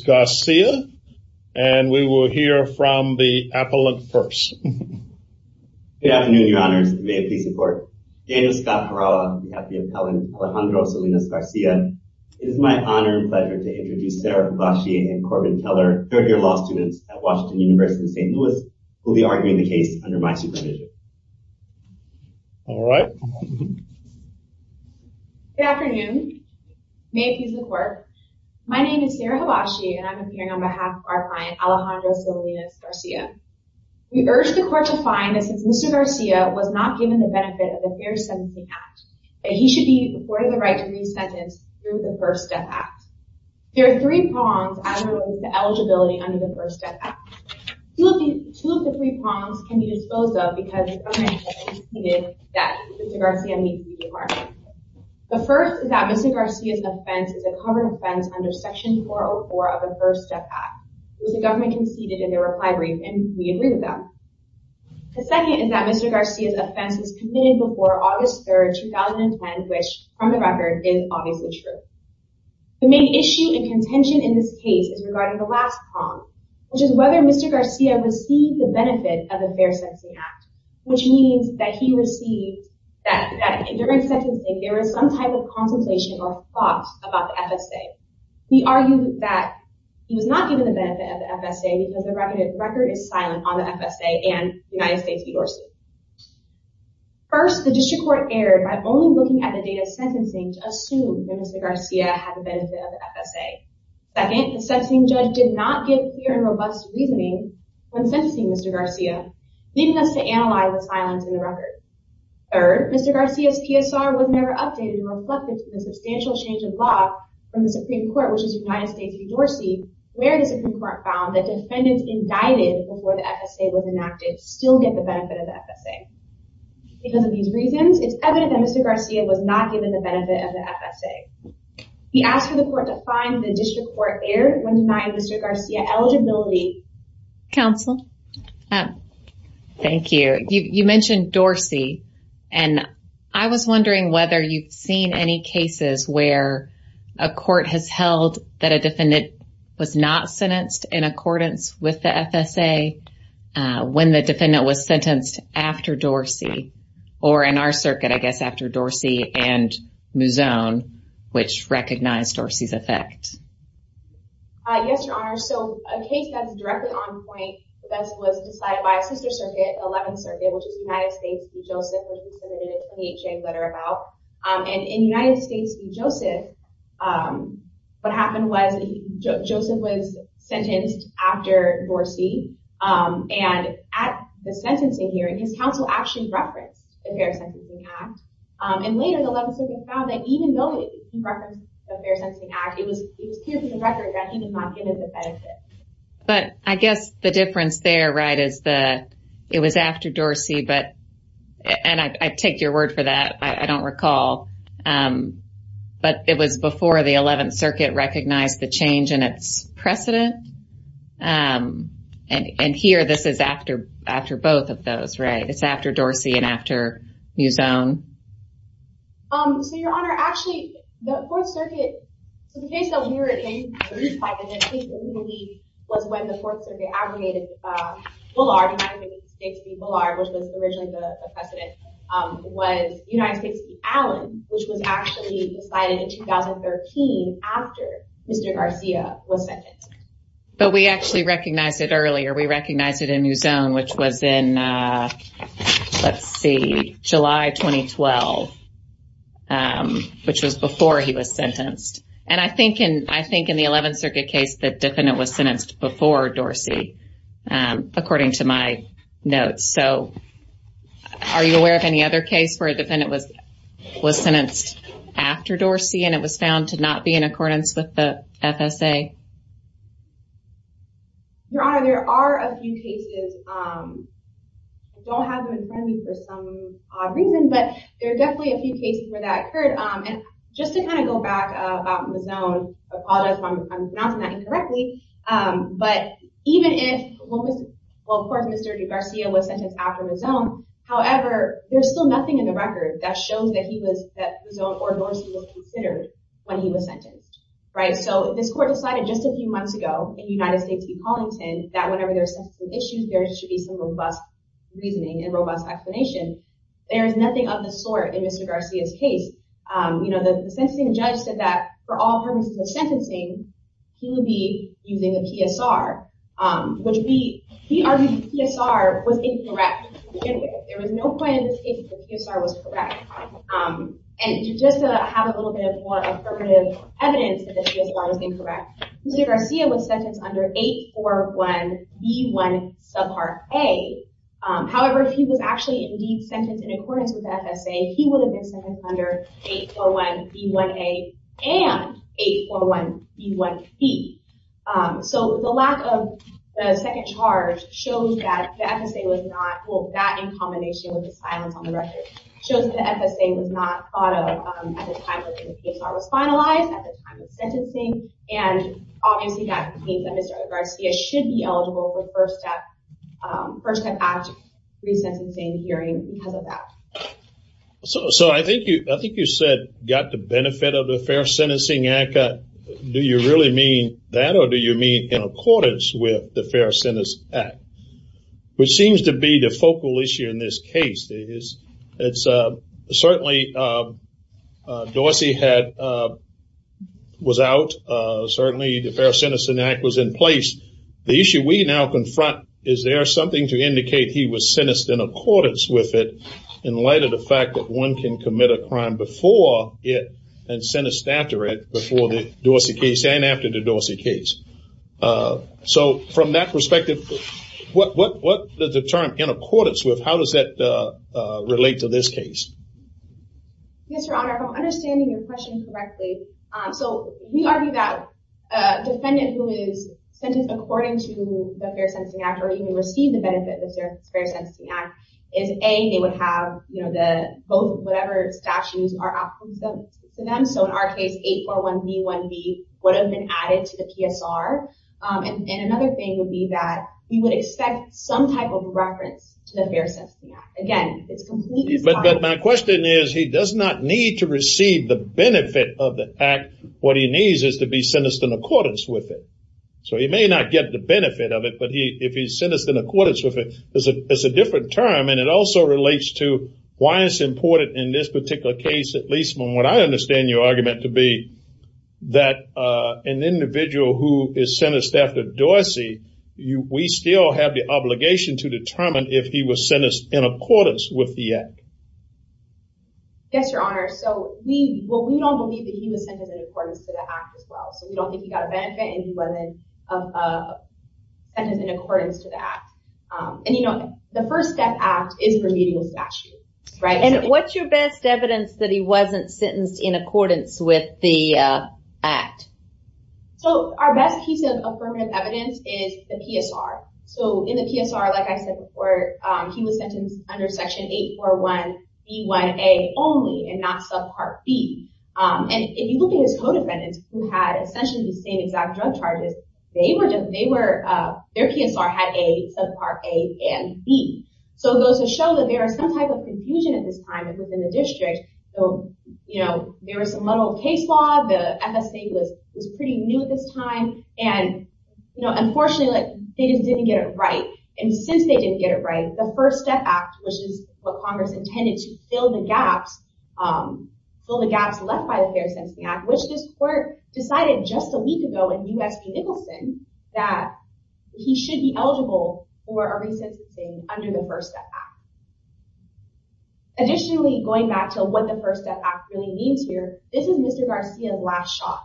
Garcia and we will hear from the appellant first. Good afternoon your honors, may it please the court. Daniel Scott Harawa on behalf of the appellant Alejandro Salinas Garcia. It is my honor and pleasure to introduce Sarah Hibachi and Corbin Keller, third-year law students at Washington University in St. Louis, who will be arguing the case under my supervision. All right. Good afternoon, may it please the court. My name is Sarah Hibachi and I'm appearing on behalf of our client Alejandro Salinas Garcia. We urge the court to find that since Mr. Garcia was not given the benefit of the fair sentencing act, that he should be afforded the right to re-sentence through the First Death Act. There are three prongs as it relates to eligibility under the First Death Act. Two of the three prongs can be disposed of because the government has conceded that Mr. Garcia needs to be remarked. The first is that Mr. Garcia's offense is a common offense under section 404 of the First Death Act, which the government conceded in their reply brief and we agree with them. The second is that Mr. Garcia's offense was committed before August 3rd, 2010, which from the record is obviously true. The main issue and contention in this case is regarding the last prong, which is whether Mr. Garcia received the benefit of a fair sentencing act, which means that he received that during sentencing there was some type of contemplation or thought about the FSA. We argue that he was not given the benefit of the FSA because the record is silent on the FSA and United States v. ORC. First, the district court erred by only looking at the date of sentencing to assume that Mr. Garcia had the benefit of the FSA. Second, the sentencing judge did not give clear and robust reasoning when sentencing Mr. Garcia, leading us to analyze the silence in the record. Third, Mr. Garcia's PSR was never updated and reflected to the substantial change of law from the Supreme Court, which is United States v. ORC, where the Supreme Court found that defendants indicted before the FSA was enacted still get the benefit of the FSA. Because of these reasons, it's evident that Mr. Garcia's PSR was never updated and reflected to the substantial change of law from the Supreme Court, which is United States v. ORC, where the Supreme Court found that defendants indicted before the FSA was enacted still get the benefit of the FSA. I was wondering whether you've seen any cases where a court has held that a defendant was not sentenced in accordance with the FSA, I was wondering whether you've seen any cases where a court has held that a defendant was not sentenced in accordance with the FSA, when the defendant was sentenced after Dorsey, or in our circuit, I guess, after Dorsey and Muzone, which recognized Dorsey's effect? Yes, Your Honor. So, a case that's directly on point, which is United States v. Joseph, which we submitted a 28-page letter about. And in United States v. Joseph, what happened was Joseph was sentenced after Dorsey, And in United States v. Joseph, what happened was Joseph was sentenced after Dorsey, and at the sentencing hearing, his counsel actually referenced the Fair Sentencing Act. And later, the Eleventh Circuit found that even though he referenced the Fair Sentencing Act, it was clear to the record that he was not given the benefit. But I guess the difference there, right, is that it was after Dorsey, and I take your word for that, I don't recall, But I guess the difference there, right, is that it was after Dorsey, and I take your word for that, I don't recall, but it was before the Eleventh Circuit recognized the change in its precedent. And here, this is after both of those, right? It's after Dorsey and after Muzzone. And here, this is after both of those, right? It's after Dorsey and after Muzzone. So, Your Honor, actually, the Fourth Circuit, so the case that we were in, the case that we believe was when the Fourth Circuit aggregated Bullard, United States v. Bullard, which was originally the precedent, was United States v. Allen, which was actually decided in 2013 after Mr. Garcia was sentenced. But we actually recognized it earlier. We recognized it in Muzzone, which was in, let's see, July 2012, But we actually recognized it earlier. We recognized it in Muzzone, which was in, let's see, July 2012, which was before he was sentenced. And I think in the Eleventh Circuit case, the defendant was sentenced before Dorsey, according to my notes. So, are you aware of any other case where a defendant was sentenced after Dorsey and it was found to not be in accordance with the FSA? Your Honor, there are a few cases. I don't have them in front of me for some odd reason, but there are definitely a few cases where that occurred. And just to kind of go back about Muzzone, I apologize if I'm pronouncing that incorrectly, but even if, well, of course, Mr. Garcia was sentenced after Muzzone, however, there's still nothing in the record that shows that Muzzone or Dorsey was considered when he was sentenced. however, there's still nothing in the record that shows that Muzzone or Dorsey was considered when he was sentenced. So, this court decided just a few months ago in United States v. Paulington that whenever there's sentencing issues, there should be some robust reasoning and robust explanation. There is nothing of the sort in Mr. Garcia's case. You know, the sentencing judge said that for all purposes of sentencing, he would be using a PSR, You know, the sentencing judge said that for all purposes of sentencing, he would be using a PSR, which we argued the PSR was incorrect to begin with. There was no point in the statement that the PSR was correct. And just to have a little bit of more affirmative evidence that the PSR was incorrect, Mr. Garcia was sentenced under 841B1 subpart A. However, he was actually indeed sentenced in accordance with the FSA, he would have been sentenced under 841B1A AND 841B1B. So the lack of a second charge shows that the FSA was not- Well, that in combination with the silence on the record- shows the FSA was not thought of at the time when the PSR was finalized, at the time of sentencing. And obviously that means that Mr. Garcia should be eligible for First Step Act resentencing hearing because of that. So I think you said, got the benefit of the Fair Sentencing Act. Do you really mean that or do you mean in accordance with the Fair Sentence Act? Which seems to be the focal issue in this case. Certainly, Dorsey was out. Certainly the Fair Sentencing Act was in place. The issue we now confront, is there something to indicate he was sentenced in accordance with it, in light of the fact that one can commit a crime before it and sentenced after it, before the Dorsey case and after the Dorsey case. So from that perspective, what does the term in accordance with, how does that relate to this case? Yes, Your Honor, if I'm understanding your question correctly, so we argue that a defendant who is sentenced according to the Fair Sentencing Act, or even received the benefit of the Fair Sentencing Act, is A, they would have both whatever statutes are offered to them. So in our case, 841B1B would have been added to the PSR. And another thing would be that we would expect some type of reference to the Fair Sentencing Act. Again, it's completely... But my question is, he does not need to receive the benefit of the act. What he needs is to be sentenced in accordance with it. So he may not get the benefit of it, but if he's sentenced in accordance with it, it's a different term and it also relates to why it's important in this particular case, at least from what I understand your argument to be, that an individual who is sentenced after Dorsey, we still have the obligation to determine if he was sentenced in accordance with the act. Yes, Your Honor. So we don't believe that he was sentenced in accordance to the act as well. So we don't think he got a benefit and he wasn't sentenced in accordance to the act. And you know, the First Step Act is remedial statute. And what's your best evidence that he wasn't sentenced in accordance with the act? So our best piece of affirmative evidence is the PSR. So in the PSR, like I said before, he was sentenced under Section 841B1A only and not Subpart B. And if you look at his co-defendants who had essentially the same exact drug charges, their PSR had A, Subpart A, and B. So it goes to show that there is some type of confusion at this time within the district. So, you know, there was some little case law. The FSA was pretty new at this time. And, you know, unfortunately, they just didn't get it right. And since they didn't get it right, the First Step Act, which is what Congress intended to fill the gaps left by the Fair Sentencing Act, which this court decided just a week ago in U.S. v. Nicholson, that he should be eligible for a resentencing under the First Step Act. Additionally, going back to what the First Step Act really means here, this is Mr. Garcia's last shot.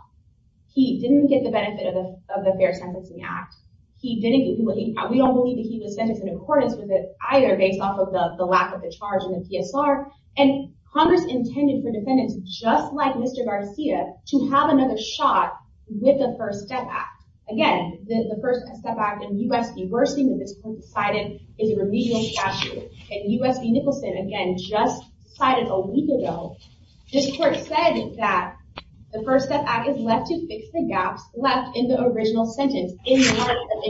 He didn't get the benefit of the Fair Sentencing Act. We don't believe that he was sentenced in accordance with it either based off of the lack of the charge in the PSR. And Congress intended for defendants just like Mr. Garcia to have another shot with the First Step Act. Again, the First Step Act in U.S. v. Wersing, which this court decided, is a remedial statute. And U.S. v. Nicholson, again, just decided a week ago, this court said that the First Step Act is left to fix the gaps left in the original sentence in the marks of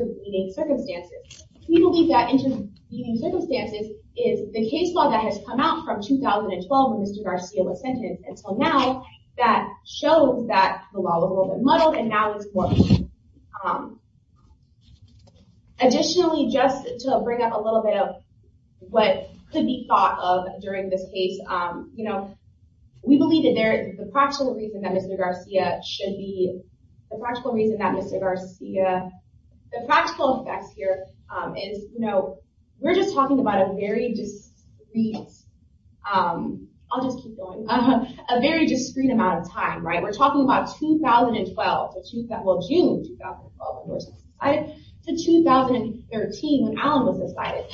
intervening circumstances. We believe that intervening circumstances is the case law that has come out from 2012 when Mr. Garcia was sentenced until now that shows that the law was a little bit muddled and now it's working. Additionally, just to bring up a little bit of what could be thought of during this case, we believe that the practical reason that Mr. Garcia should be—the practical reason that Mr. Garcia— we're just talking about a very discreet—I'll just keep going—a very discreet amount of time, right? We're talking about 2012—well, June 2012 when Wersing was decided to 2013 when Allen was decided.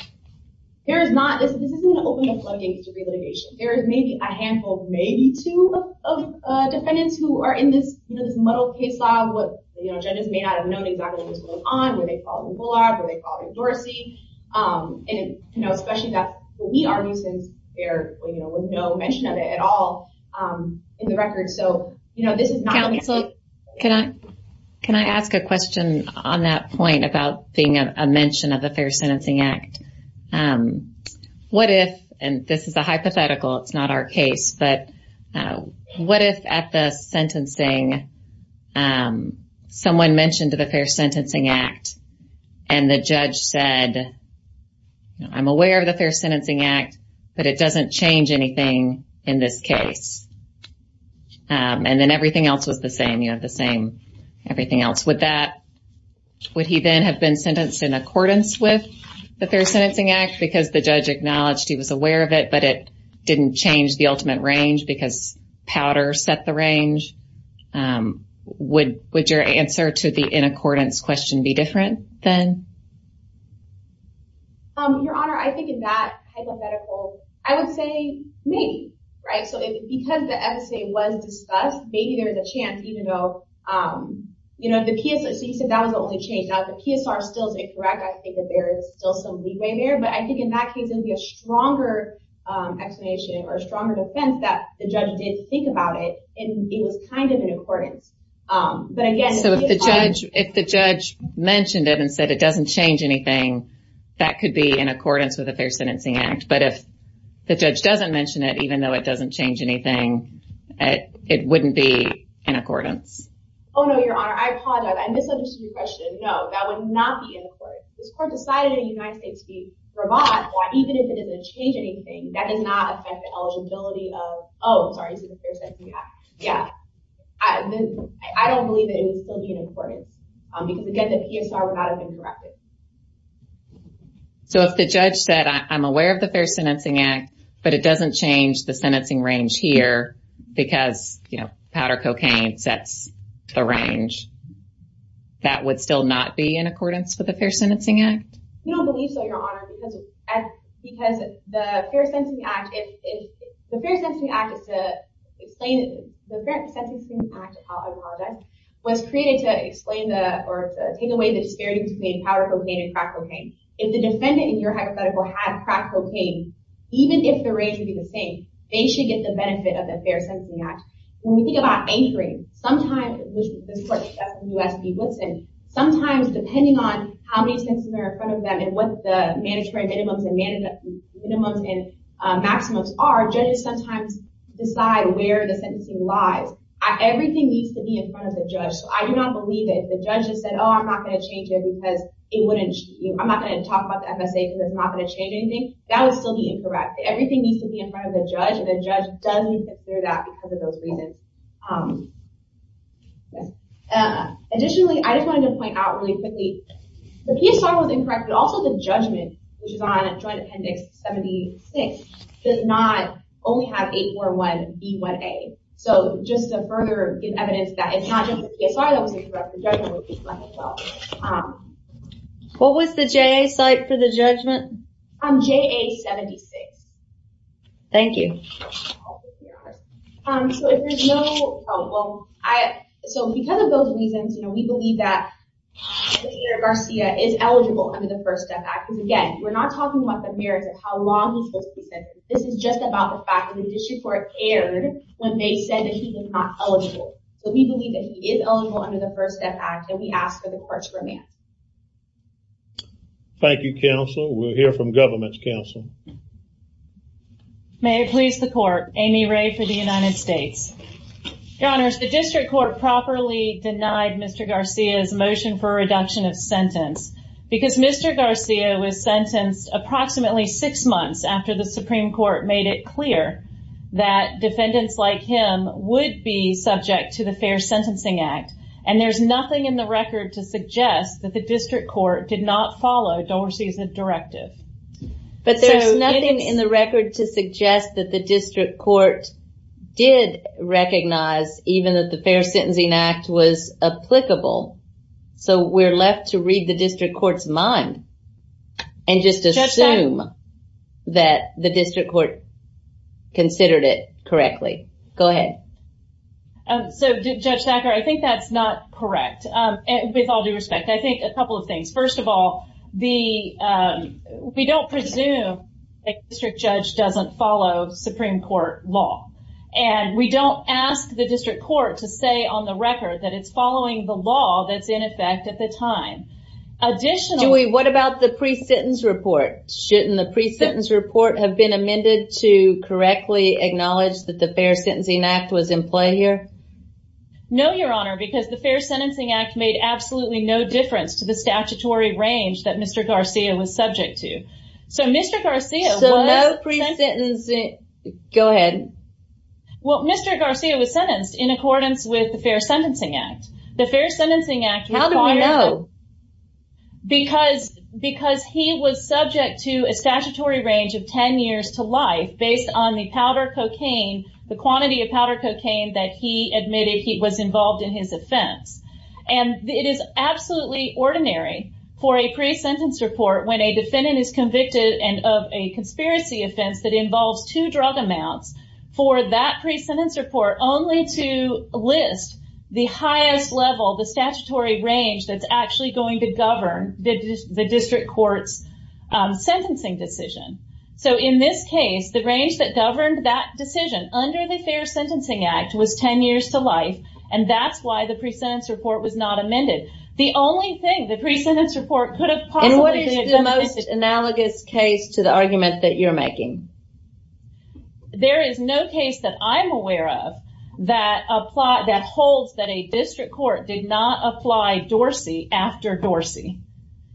There is not—this isn't an open and flooding case of relitigation. There is maybe a handful, maybe two, of defendants who are in this muddled case law where judges may not have known exactly what was going on, where they called him Bullard, where they called him Dorsey, and especially that we argue since there was no mention of it at all in the records. Can I ask a question on that point about being a mention of the Fair Sentencing Act? What if—and this is a hypothetical, it's not our case—but what if at the sentencing, someone mentioned the Fair Sentencing Act and the judge said, I'm aware of the Fair Sentencing Act, but it doesn't change anything in this case. And then everything else was the same, you know, the same everything else. Would that—would he then have been sentenced in accordance with the Fair Sentencing Act because the judge acknowledged he was aware of it, but it didn't change the ultimate range because Powder set the range? Would your answer to the in accordance question be different then? Your Honor, I think in that hypothetical, I would say maybe, right? So, because the FSA was discussed, maybe there's a chance even though, you know, the PSR, so you said that was the only change. Now, if the PSR still is incorrect, I think that there is still some leeway there. But I think in that case, it would be a stronger explanation or a stronger defense that the judge did think about it, and it was kind of in accordance. But again— So, if the judge mentioned it and said it doesn't change anything, that could be in accordance with the Fair Sentencing Act. But if the judge doesn't mention it, even though it doesn't change anything, it wouldn't be in accordance. Oh, no, Your Honor. I apologize. I misunderstood your question. No, that would not be in accordance. If this court decided in the United States to be bravado, even if it didn't change anything, that does not affect the eligibility of—oh, sorry, it's the Fair Sentencing Act. Yeah. I don't believe that it would still be in accordance because, again, the PSR would not have been corrected. So, if the judge said, I'm aware of the Fair Sentencing Act, but it doesn't change the sentencing range here because, you know, powder cocaine sets the range, that would still not be in accordance with the Fair Sentencing Act? We don't believe so, Your Honor, because the Fair Sentencing Act is to explain— If the defendant, in your hypothetical, had crack cocaine, even if the range would be the same, they should get the benefit of the Fair Sentencing Act. When we think about anchoring, sometimes—this court, that's U.S. v. Woodson—sometimes, depending on how many sentences are in front of them and what the mandatory minimums and maximums are, judges sometimes decide where the sentencing lies. Everything needs to be in front of the judge, so I do not believe that if the judge just said, oh, I'm not going to change it because it wouldn't—I'm not going to talk about the FSA because it's not going to change anything, that would still be incorrect. Everything needs to be in front of the judge, and the judge doesn't need to clear that because of those reasons. Additionally, I just wanted to point out really quickly, the PSR was incorrect, but also the judgment, which is on Joint Appendix 76, does not only have 841b1a. So, just to further give evidence that it's not just the PSR that was incorrect, the judgment would be correct as well. What was the JA site for the judgment? JA-76. Thank you. So, because of those reasons, we believe that Mr. Garcia is eligible under the First Step Act. Again, we're not talking about the merits of how long he's supposed to be sentenced. This is just about the fact that the district court erred when they said that he was not eligible. So, we believe that he is eligible under the First Step Act, and we ask for the court's remand. Thank you, counsel. We'll hear from government's counsel. May it please the court. Amy Ray for the United States. Your Honors, the district court properly denied Mr. Garcia's motion for a reduction of sentence because Mr. Garcia was sentenced approximately six months after the Supreme Court made it clear that defendants like him would be subject to the Fair Sentencing Act, and there's nothing in the record to suggest that the district court did not follow Dorsey's directive. But there's nothing in the record to suggest that the district court did recognize even that the Fair Sentencing Act was applicable. So, we're left to read the district court's mind and just assume that the district court considered it correctly. Go ahead. So, Judge Thacker, I think that's not correct, with all due respect. I think a couple of things. First of all, we don't presume a district judge doesn't follow Supreme Court law, and we don't ask the district court to say on the record that it's following the law that's in effect at the time. Dewey, what about the pre-sentence report? Shouldn't the pre-sentence report have been amended to correctly acknowledge that the Fair Sentencing Act was in play here? No, Your Honor, because the Fair Sentencing Act made absolutely no difference to the statutory range that Mr. Garcia was subject to. So, Mr. Garcia was... So, no pre-sentencing... Go ahead. Well, Mr. Garcia was sentenced in accordance with the Fair Sentencing Act. The Fair Sentencing Act... How do we know? Because he was subject to a statutory range of 10 years to life based on the powder cocaine, the quantity of powder cocaine that he admitted he was involved in his offense. And it is absolutely ordinary for a pre-sentence report when a defendant is convicted of a conspiracy offense that involves two drug amounts, for that pre-sentence report only to list the highest level, the statutory range that's actually going to govern the district court's sentencing decision. So, in this case, the range that governed that decision under the Fair Sentencing Act was 10 years to life, and that's why the pre-sentence report was not amended. The only thing, the pre-sentence report could have possibly... And what is the most analogous case to the argument that you're making? There is no case that I'm aware of that holds that a district court did not apply Dorsey after Dorsey.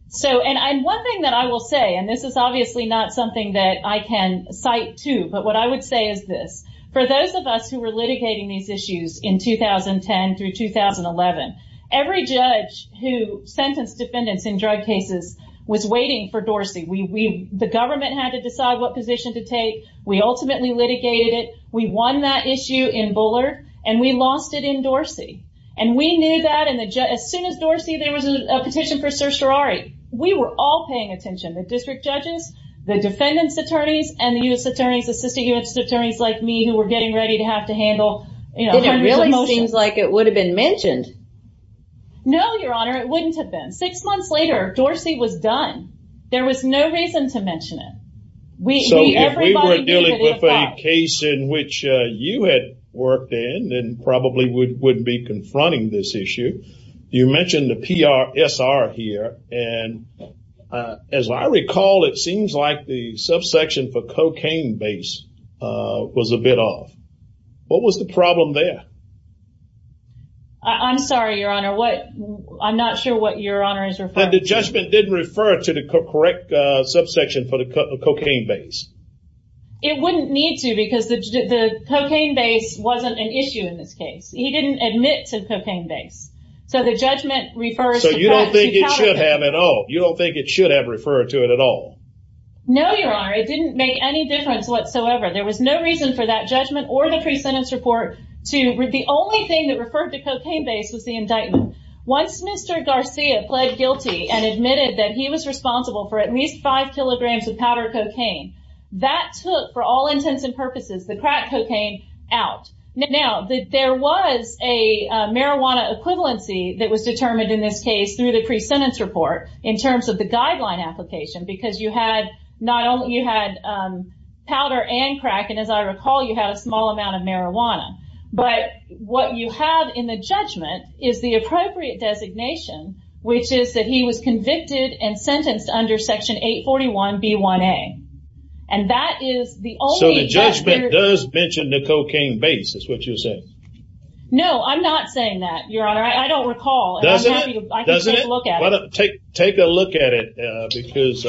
So, and one thing that I will say, and this is obviously not something that I can cite to, but what I would say is this, for those of us who were litigating these issues in 2010 through 2011, every judge who sentenced defendants in drug cases was waiting for Dorsey. The government had to decide what position to take. We ultimately litigated it. We won that issue in Buller, and we lost it in Dorsey. And we knew that as soon as Dorsey, there was a petition for certiorari. We were all paying attention, the district judges, the defendants' attorneys, and the U.S. attorneys, assistant U.S. attorneys like me who were getting ready to have to handle hundreds of motions. Then it really seems like it would have been mentioned. No, Your Honor, it wouldn't have been. Six months later, Dorsey was done. There was no reason to mention it. So, if we were dealing with a case in which you had worked in and probably would be confronting this issue, you mentioned the PRSR here, and as I recall, it seems like the subsection for cocaine base was a bit off. What was the problem there? I'm sorry, Your Honor. I'm not sure what Your Honor is referring to. The judgment didn't refer to the correct subsection for the cocaine base. It wouldn't need to because the cocaine base wasn't an issue in this case. He didn't admit to the cocaine base. So, the judgment refers to that. So, you don't think it should have at all? You don't think it should have referred to it at all? No, Your Honor. It didn't make any difference whatsoever. There was no reason for that judgment or the pre-sentence report. The only thing that referred to cocaine base was the indictment. Once Mr. Garcia pled guilty and admitted that he was responsible for at least five kilograms of powdered cocaine, that took, for all intents and purposes, the crack cocaine out. Now, there was a marijuana equivalency that was determined in this case through the pre-sentence report in terms of the guideline application because you had powder and crack, and as I recall, you had a small amount of marijuana. But what you have in the judgment is the appropriate designation, which is that he was convicted and sentenced under Section 841B1A. So, the judgment does mention the cocaine base, is what you're saying? No, I'm not saying that, Your Honor. I don't recall. Does it? I can take a look at it. Take a look at it because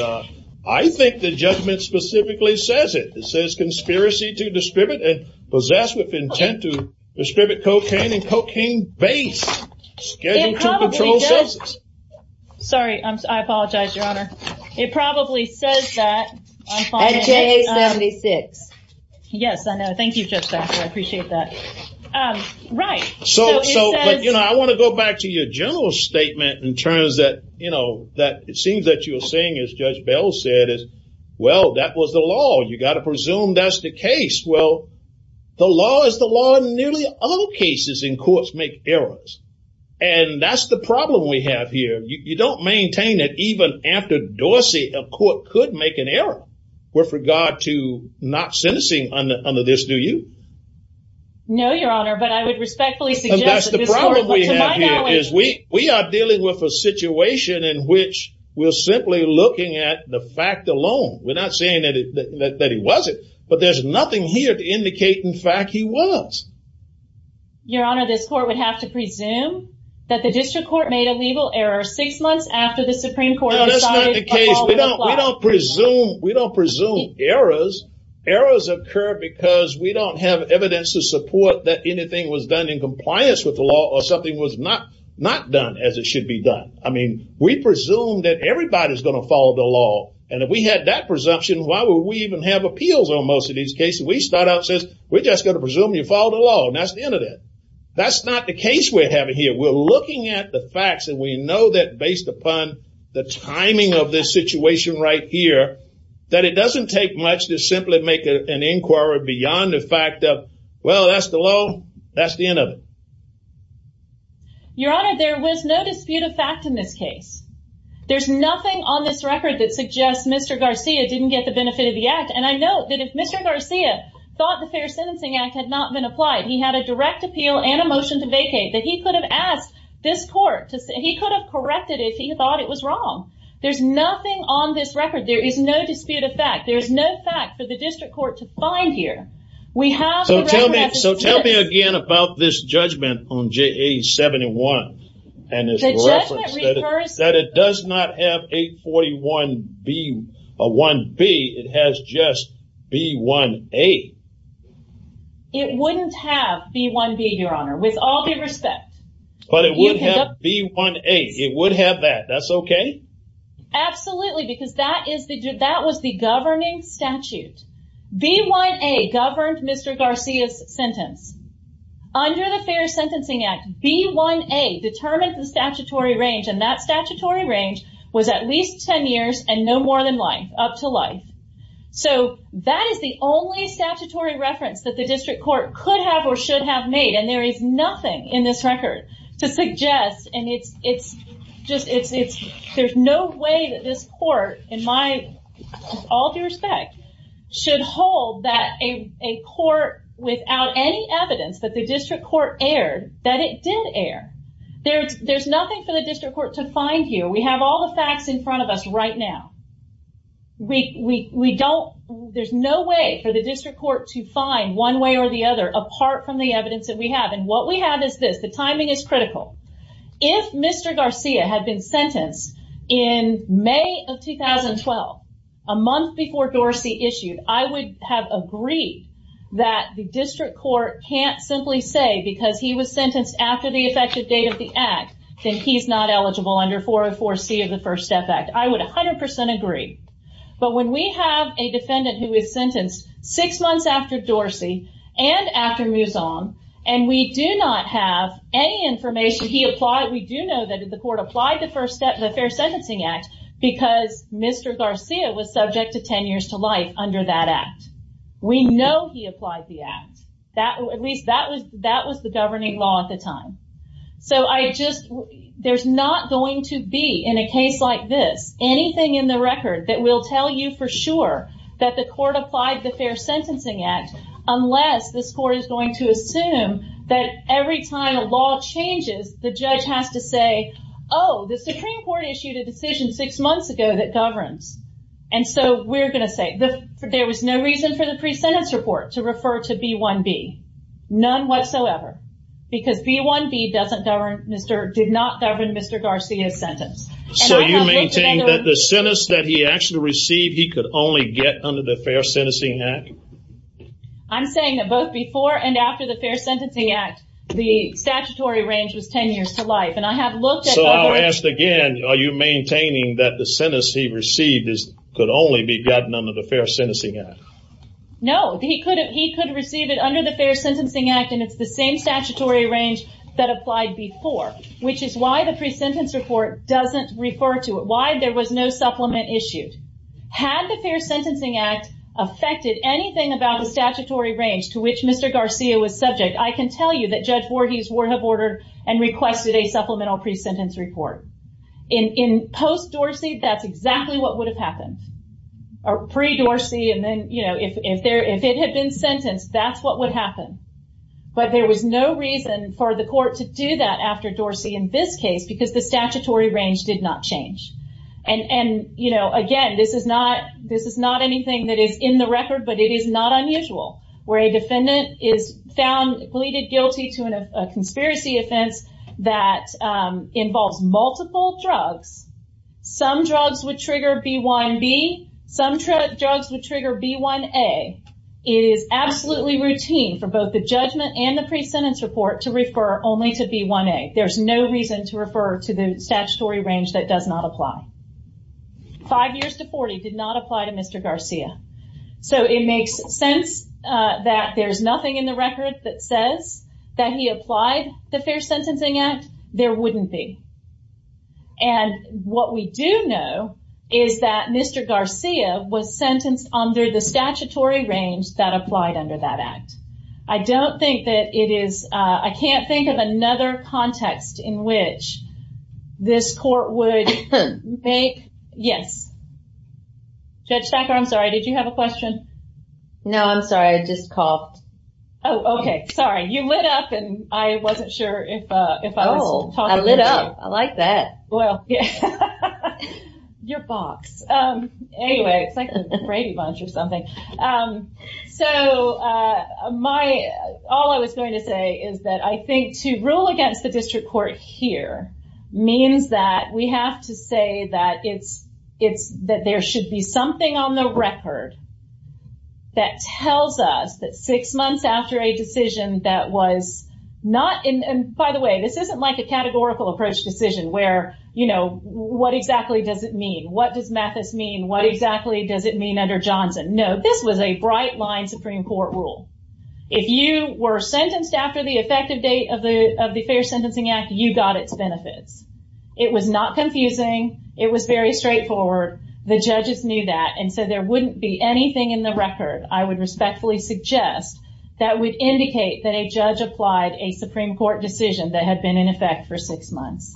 I think the judgment specifically says it. It says, conspiracy to distribute and possess with intent to distribute cocaine and cocaine base. It probably does. Sorry, I apologize, Your Honor. It probably says that. At J76. Yes, I know. Thank you, Judge Baxter. I appreciate that. Right. So, I want to go back to your general statement in terms that it seems that you were saying, as Judge Bell said, well, that was the law. You've got to presume that's the case. Well, the law is the law, and nearly all cases in courts make errors, and that's the problem we have here. You don't maintain that even after Dorsey, a court could make an error with regard to not sentencing under this, do you? No, Your Honor, but I would respectfully suggest that to my knowledge. We are dealing with a situation in which we're simply looking at the fact alone. We're not saying that he wasn't, but there's nothing here to indicate, in fact, he was. Your Honor, this court would have to presume that the district court made a legal error six months after the Supreme Court decided. No, that's not the case. We don't presume errors. Errors occur because we don't have evidence to support that anything was done in compliance with the law or something was not done as it should be done. I mean, we presume that everybody's going to follow the law, and if we had that presumption, why would we even have appeals on most of these cases? We start out and say, we're just going to presume you follow the law, and that's the end of it. That's not the case we're having here. We're looking at the facts, and we know that based upon the timing of this situation right here, that it doesn't take much to simply make an inquiry beyond the fact of, well, that's the law. That's the end of it. Your Honor, there was no dispute of fact in this case. There's nothing on this record that suggests Mr. Garcia didn't get the benefit of the act, and I note that if Mr. Garcia thought the Fair Sentencing Act had not been applied, he had a direct appeal and a motion to vacate, that he could have asked this court, he could have corrected it if he thought it was wrong. There's nothing on this record. There is no dispute of fact. There is no fact for the district court to find here. So tell me again about this judgment on JA-71. The judgment refers to... That it does not have 841-1B. It has just B-1A. It wouldn't have B-1B, Your Honor, with all due respect. But it would have B-1A. It would have that. That's okay? Absolutely, because that was the governing statute. B-1A governed Mr. Garcia's sentence. Under the Fair Sentencing Act, B-1A determined the statutory range, and that statutory range was at least 10 years and no more than life, up to life. So that is the only statutory reference that the district court could have or should have made, and there is nothing in this record to suggest, and there's no way that this court, with all due respect, should hold that a court without any evidence that the district court erred, that it did err. There's nothing for the district court to find here. We have all the facts in front of us right now. We don't... There's no way for the district court to find one way or the other apart from the evidence that we have, and what we have is this. The timing is critical. If Mr. Garcia had been sentenced in May of 2012, a month before Dorsey issued, I would have agreed that the district court can't simply say, because he was sentenced after the effective date of the act, that he's not eligible under 404C of the First Step Act. I would 100% agree, but when we have a defendant who is sentenced six months after Dorsey and after Muzong, and we do not have any information, we do know that the court applied the Fair Sentencing Act because Mr. Garcia was subject to 10 years to life under that act. We know he applied the act. At least that was the governing law at the time. So I just... There's not going to be, in a case like this, anything in the record that will tell you for sure that the court applied the Fair Sentencing Act unless this court is going to assume that every time a law changes, the judge has to say, oh, the Supreme Court issued a decision six months ago that governs. And so we're going to say, there was no reason for the pre-sentence report to refer to B1B. None whatsoever. Because B1B did not govern Mr. Garcia's sentence. So you maintain that the sentence that he actually received, he could only get under the Fair Sentencing Act? I'm saying that both before and after the Fair Sentencing Act, the statutory range was 10 years to life. So I'll ask again, are you maintaining that the sentence he received could only be gotten under the Fair Sentencing Act? No. He could receive it under the Fair Sentencing Act, and it's the same statutory range that applied before. Which is why the pre-sentence report doesn't refer to it. Why there was no supplement issued. Had the Fair Sentencing Act affected anything about the statutory range to which Mr. Garcia was subject, I can tell you that Judge Voorhees would have ordered and requested a supplemental pre-sentence report. In post-Dorsey, that's exactly what would have happened. Or pre-Dorsey, and then, you know, if it had been sentenced, that's what would happen. But there was no reason for the court to do that after Dorsey in this case because the statutory range did not change. And, you know, again, this is not anything that is in the record, but it is not unusual where a defendant is found, pleaded guilty to a conspiracy offense that involves multiple drugs. Some drugs would trigger B1B. Some drugs would trigger B1A. It is absolutely routine for both the judgment and the pre-sentence report to refer only to B1A. There's no reason to refer to the statutory range that does not apply. Five years to 40 did not apply to Mr. Garcia. So it makes sense that there's nothing in the record that says that he applied the Fair Sentencing Act. There wouldn't be. And what we do know is that Mr. Garcia was sentenced under the statutory range that applied under that act. I don't think that it is – I can't think of another context in which this court would make – yes? Judge Thacker, I'm sorry. Did you have a question? No, I'm sorry. I just coughed. Oh, okay. Sorry. You lit up, and I wasn't sure if I was talking to you. Oh, I lit up. I like that. Well, yeah. Your box. Anyway, it's like a Brady Bunch or something. So all I was going to say is that I think to rule against the district court here means that we have to say that there should be something on the record that tells us that six months after a decision that was not – and by the way, this isn't like a categorical approach decision where, you know, what exactly does it mean? What does Mathis mean? What exactly does it mean under Johnson? No, this was a bright-line Supreme Court rule. If you were sentenced after the effective date of the Fair Sentencing Act, you got its benefits. It was not confusing. It was very straightforward. The judges knew that, and so there wouldn't be anything in the record, I would respectfully suggest, that would indicate that a judge applied a Supreme Court decision that had been in effect for six months.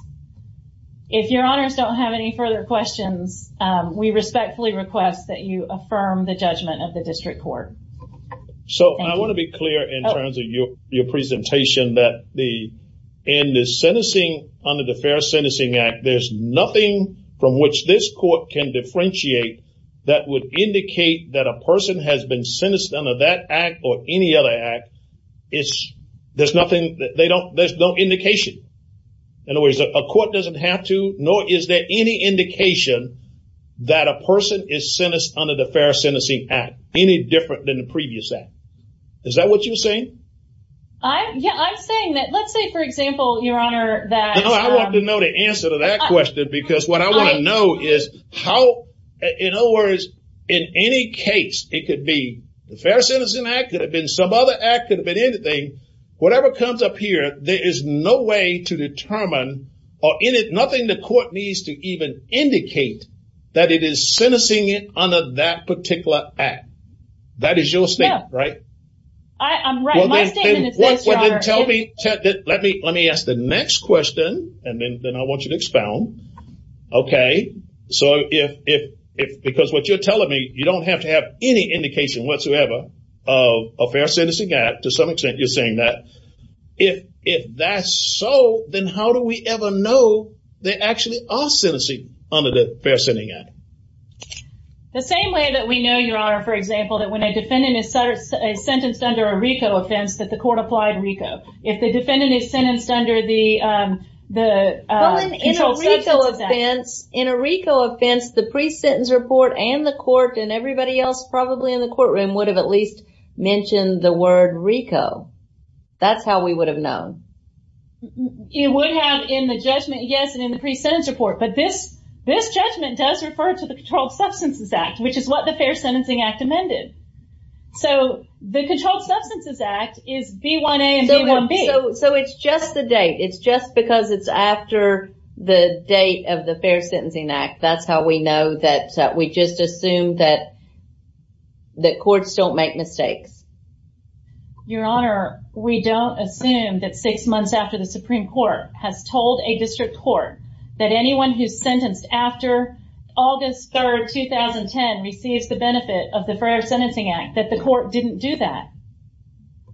If your honors don't have any further questions, we respectfully request that you affirm the judgment of the district court. So I want to be clear in terms of your presentation that the – in the sentencing under the Fair Sentencing Act, there's nothing from which this court can differentiate that would indicate that a person has been sentenced under that act or any other act. There's nothing – there's no indication. In other words, a court doesn't have to, nor is there any indication, that a person is sentenced under the Fair Sentencing Act, any different than the previous act. Is that what you're saying? Yeah, I'm saying that – let's say, for example, your honor, that – No, I want to know the answer to that question because what I want to know is how – in other words, in any case, it could be the Fair Sentencing Act, it could have been some other act, it could have been anything. Whatever comes up here, there is no way to determine or – nothing the court needs to even indicate that it is sentencing under that particular act. That is your statement, right? I'm right. My statement is this, your honor. Let me ask the next question and then I want you to expound, okay? So if – because what you're telling me, you don't have to have any indication whatsoever of a Fair Sentencing Act. To some extent, you're saying that. If that's so, then how do we ever know there actually are sentencing under the Fair Sentencing Act? The same way that we know, your honor, for example, that when a defendant is sentenced under a RICO offense that the court applied RICO. If the defendant is sentenced under the – In a RICO offense, the pre-sentence report and the court and everybody else probably in the courtroom would have at least mentioned the word RICO. That's how we would have known. It would have in the judgment, yes, and in the pre-sentence report. But this judgment does refer to the Controlled Substances Act, which is what the Fair Sentencing Act amended. So the Controlled Substances Act is B1A and B1B. So it's just the date. It's just because it's after the date of the Fair Sentencing Act. That's how we know that we just assume that courts don't make mistakes. Your honor, we don't assume that six months after the Supreme Court has told a district court that anyone who's sentenced after August 3, 2010, receives the benefit of the Fair Sentencing Act, that the court didn't do that.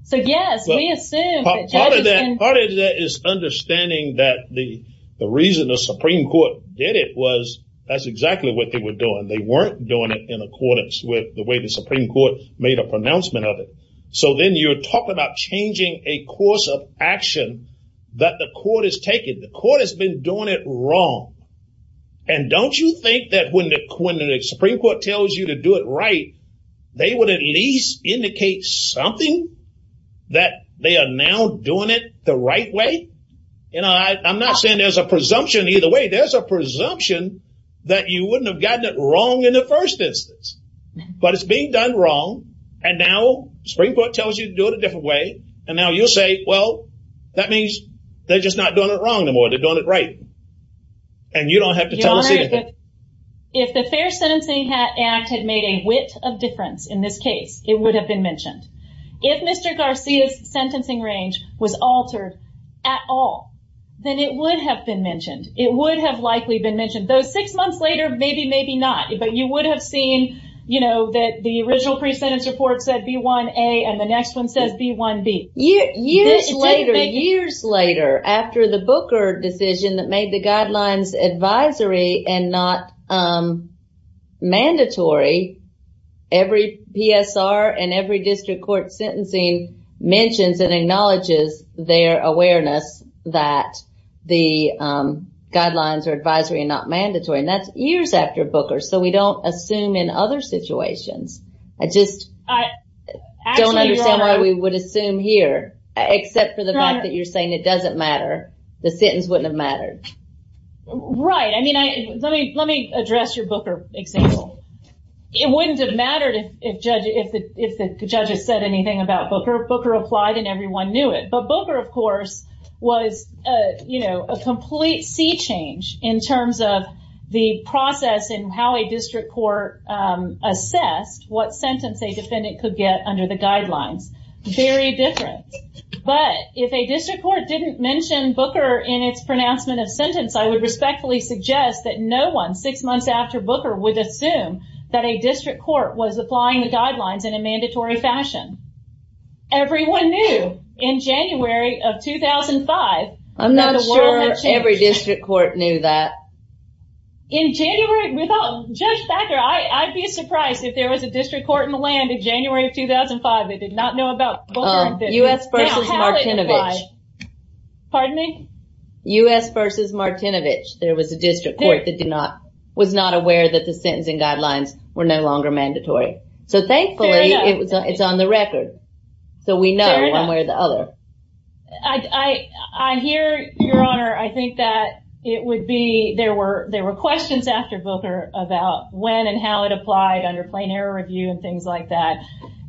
So, yes, we assume that judges can – That's exactly what they were doing. They weren't doing it in accordance with the way the Supreme Court made a pronouncement of it. So then you're talking about changing a course of action that the court has taken. The court has been doing it wrong. And don't you think that when the Supreme Court tells you to do it right, they would at least indicate something that they are now doing it the right way? I'm not saying there's a presumption either way. I'm saying there's a presumption that you wouldn't have gotten it wrong in the first instance. But it's being done wrong. And now the Supreme Court tells you to do it a different way. And now you'll say, well, that means they're just not doing it wrong no more. They're doing it right. And you don't have to tell us anything. Your honor, if the Fair Sentencing Act had made a whit of difference in this case, it would have been mentioned. If Mr. Garcia's sentencing range was altered at all, then it would have been mentioned. It would have likely been mentioned. Though six months later, maybe, maybe not. But you would have seen, you know, that the original pre-sentence report said B1A, and the next one says B1B. Years later, years later, after the Booker decision that made the guidelines advisory and not mandatory, every PSR and every district court sentencing mentions and acknowledges their awareness that the guidelines are advisory and not mandatory. And that's years after Booker. So we don't assume in other situations. I just don't understand why we would assume here. Except for the fact that you're saying it doesn't matter. The sentence wouldn't have mattered. Right. I mean, let me address your Booker example. It wouldn't have mattered if the judge had said anything about Booker. Booker applied and everyone knew it. But Booker, of course, was, you know, a complete sea change in terms of the process and how a district court assessed what sentence a defendant could get under the guidelines. Very different. But if a district court didn't mention Booker in its pronouncement of sentence, I would respectfully suggest that no one, six months after Booker, would assume that a district court was applying the guidelines in a mandatory fashion. Everyone knew in January of 2005 that the world had changed. I'm not sure every district court knew that. In January, without Judge Thacker, I'd be surprised if there was a district court in the land in January of 2005 that did not know about Booker. U.S. v. Martinovich. Pardon me? U.S. v. Martinovich. There was a district court that was not aware that the sentencing guidelines were no longer mandatory. So thankfully, it's on the record. So we know one way or the other. I hear, Your Honor, I think that it would be, there were questions after Booker about when and how it applied under plain error review and things like that.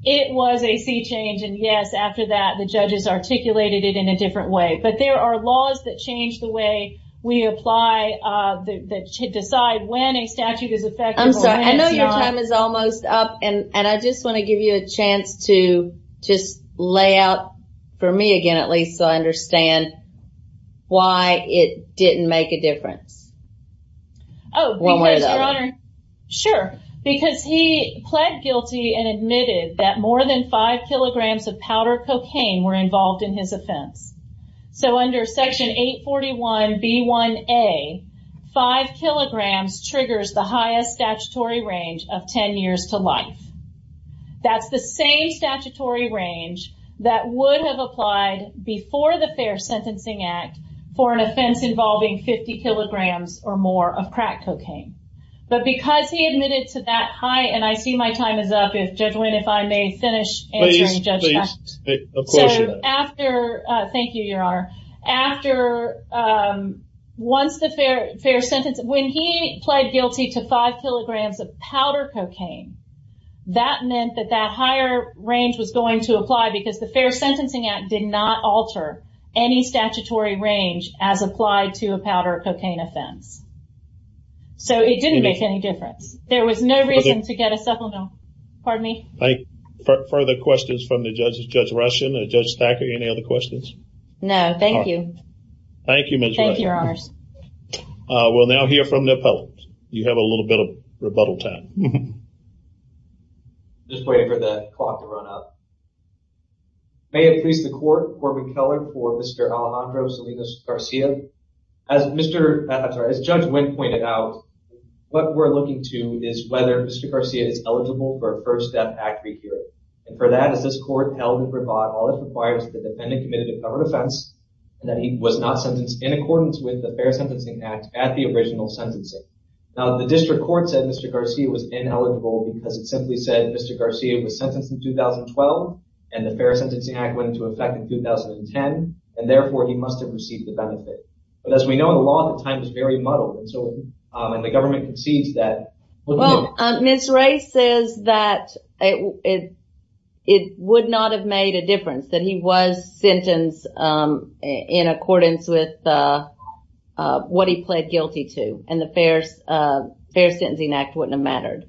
It was a sea change, and yes, after that, the judges articulated it in a different way. But there are laws that change the way we apply, that decide when a statute is effective and when it's not. I'm sorry, I know your time is almost up, and I just want to give you a chance to just lay out, for me again at least, so I understand why it didn't make a difference. One way or the other. Oh, because, Your Honor, sure. Because he pled guilty and admitted that more than 5 kilograms of powder cocaine were involved in his offense. So under Section 841B1A, 5 kilograms triggers the highest statutory range of 10 years to life. That's the same statutory range that would have applied before the Fair Sentencing Act for an offense involving 50 kilograms or more of crack cocaine. But because he admitted to that high, and I see my time is up, if Judge Wynn, if I may finish answering Judge Baxter. Please, please. So after, thank you, Your Honor. After, once the Fair Sentencing, when he pled guilty to 5 kilograms of powder cocaine, that meant that that higher range was going to apply, because the Fair Sentencing Act did not alter any statutory range as applied to a powder cocaine offense. So it didn't make any difference. There was no reason to get a supplemental. Pardon me? Thank you. Further questions from the judges? Judge Rushin or Judge Thacker, any other questions? No, thank you. Thank you, Ms. Wright. Thank you, Your Honors. We'll now hear from the appellant. You have a little bit of rebuttal time. Just waiting for the clock to run up. May it please the Court, for Mr. Alejandro Salinas-Garcia. As Judge Wynn pointed out, what we're looking to is whether Mr. Garcia is eligible for a first-step act rehearing. And for that, as this Court held in Bravado, it requires the defendant committed a cover offense, and that he was not sentenced in accordance with the Fair Sentencing Act at the original sentencing. Now, the district court said Mr. Garcia was ineligible because it simply said Mr. Garcia was sentenced in 2012, and the Fair Sentencing Act went into effect in 2010, and therefore he must have received the benefit. But as we know in the law, the time is very muddled, and the government concedes that. Well, Ms. Wright says that it would not have made a difference, that he was sentenced in accordance with what he pled guilty to, and the Fair Sentencing Act wouldn't have mattered.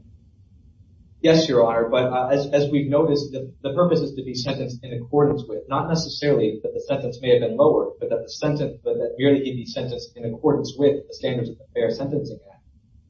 Yes, Your Honor. But as we've noticed, the purpose is to be sentenced in accordance with, not necessarily that the sentence may have been lowered, but that merely he be sentenced in accordance with the standards of the Fair Sentencing Act.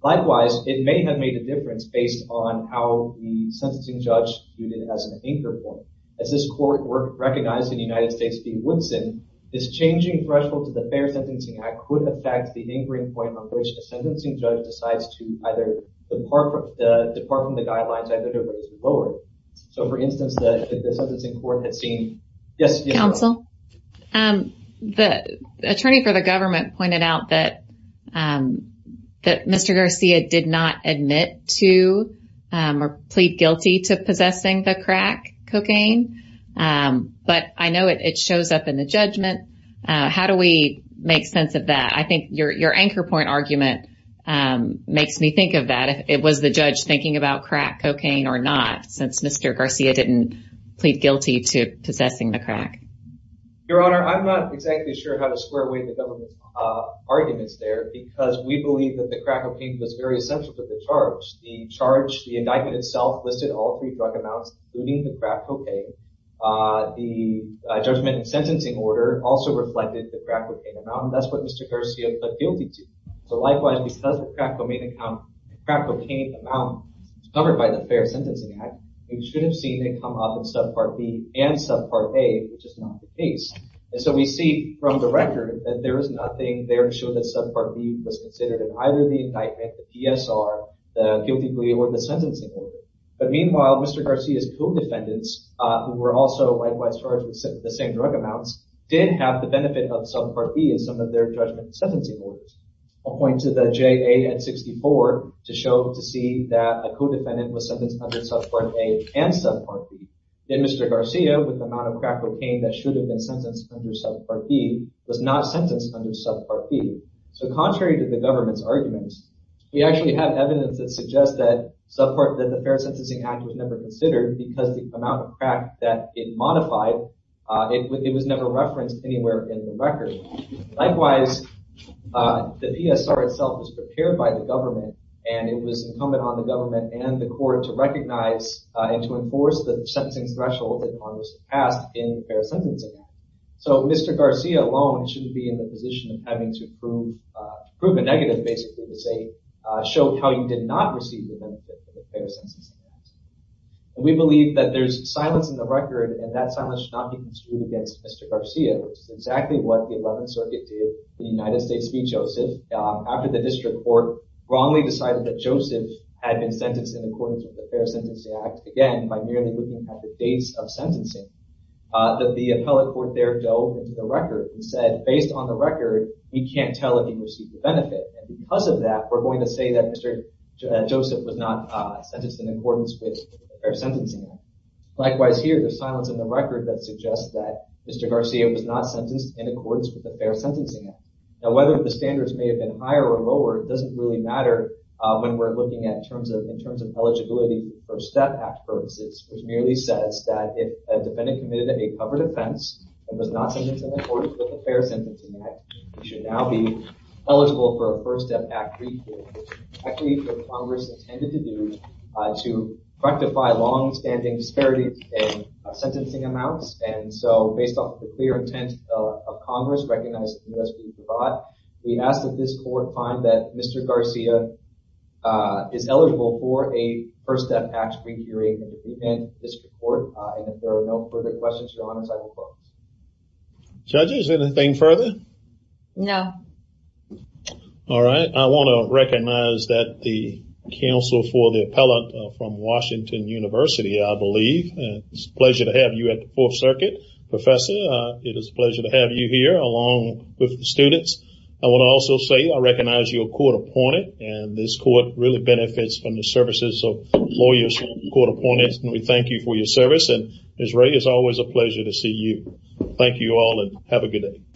Likewise, it may have made a difference based on how the sentencing judge viewed it as an anchor point. As this Court recognized in the United States v. Woodson, this changing threshold to the Fair Sentencing Act could affect the anchoring point on which a sentencing judge decides to either depart from the guidelines either to raise or lower it. So, for instance, the sentencing court had seen— Counsel? The attorney for the government pointed out that Mr. Garcia did not admit to or plead guilty to possessing the crack cocaine, but I know it shows up in the judgment. How do we make sense of that? I think your anchor point argument makes me think of that. It was the judge thinking about crack cocaine or not, since Mr. Garcia didn't plead guilty to possessing the crack. Your Honor, I'm not exactly sure how to square away the government's arguments there because we believe that the crack cocaine was very essential to the charge. The charge—the indictment itself listed all three drug amounts, including the crack cocaine. The judgment and sentencing order also reflected the crack cocaine amount, and that's what Mr. Garcia pled guilty to. So, likewise, because the crack cocaine amount is covered by the Fair Sentencing Act, we should have seen it come up in Subpart B and Subpart A, which is not the case. And so we see from the record that there is nothing there to show that Subpart B was considered in either the indictment, the PSR, the guilty plea, or the sentencing order. But meanwhile, Mr. Garcia's co-defendants, who were also likewise charged with the same drug amounts, did have the benefit of Subpart B in some of their judgment and sentencing orders. I'll point to the JAN 64 to show—to see that a co-defendant was sentenced under Subpart A and Subpart B. Then Mr. Garcia, with the amount of crack cocaine that should have been sentenced under Subpart B, was not sentenced under Subpart B. So, contrary to the government's arguments, we actually have evidence that suggests that the Fair Sentencing Act was never considered because the amount of crack that it modified, it was never referenced anywhere in the record. Likewise, the PSR itself was prepared by the government, and it was incumbent on the government and the court to recognize and to enforce the sentencing threshold that Congress passed in the Fair Sentencing Act. So, Mr. Garcia alone shouldn't be in the position of having to prove a negative, basically, to show how he did not receive the benefit of the Fair Sentencing Act. We believe that there's silence in the record, and that silence should not be construed against Mr. Garcia, which is exactly what the 11th Circuit did in the United States v. Joseph. After the district court wrongly decided that Joseph had been sentenced in accordance with the Fair Sentencing Act, again, by merely looking at the dates of sentencing, the appellate court there dove into the record and said, based on the record, we can't tell if he received the benefit. And because of that, we're going to say that Mr. Joseph was not sentenced in accordance with the Fair Sentencing Act. Likewise, here, there's silence in the record that suggests that Mr. Garcia was not sentenced in accordance with the Fair Sentencing Act. Now, whether the standards may have been higher or lower doesn't really matter when we're looking at in terms of eligibility for STEP Act purposes, which merely says that if a defendant committed a covered offense and was not sentenced in accordance with the Fair Sentencing Act, he should now be eligible for a FIRST STEP Act re-hearing, which is exactly what Congress intended to do to rectify longstanding disparities in sentencing amounts. And so, based on the clear intent of Congress, recognized in the U.S. Supreme Court, we ask that this court find that Mr. Garcia is eligible for a FIRST STEP Act re-hearing of the defendant in this court. And if there are no further questions, your Honor, I will close. Judges, anything further? No. All right, I want to recognize that the counsel for the appellate from Washington University, I believe. It's a pleasure to have you at the Fourth Circuit. Professor, it is a pleasure to have you here along with the students. I want to also say I recognize your court opponent, and this court really benefits from the services of lawyers and court opponents. And we thank you for your service, and, as Ray, it's always a pleasure to see you. Thank you all and have a good day.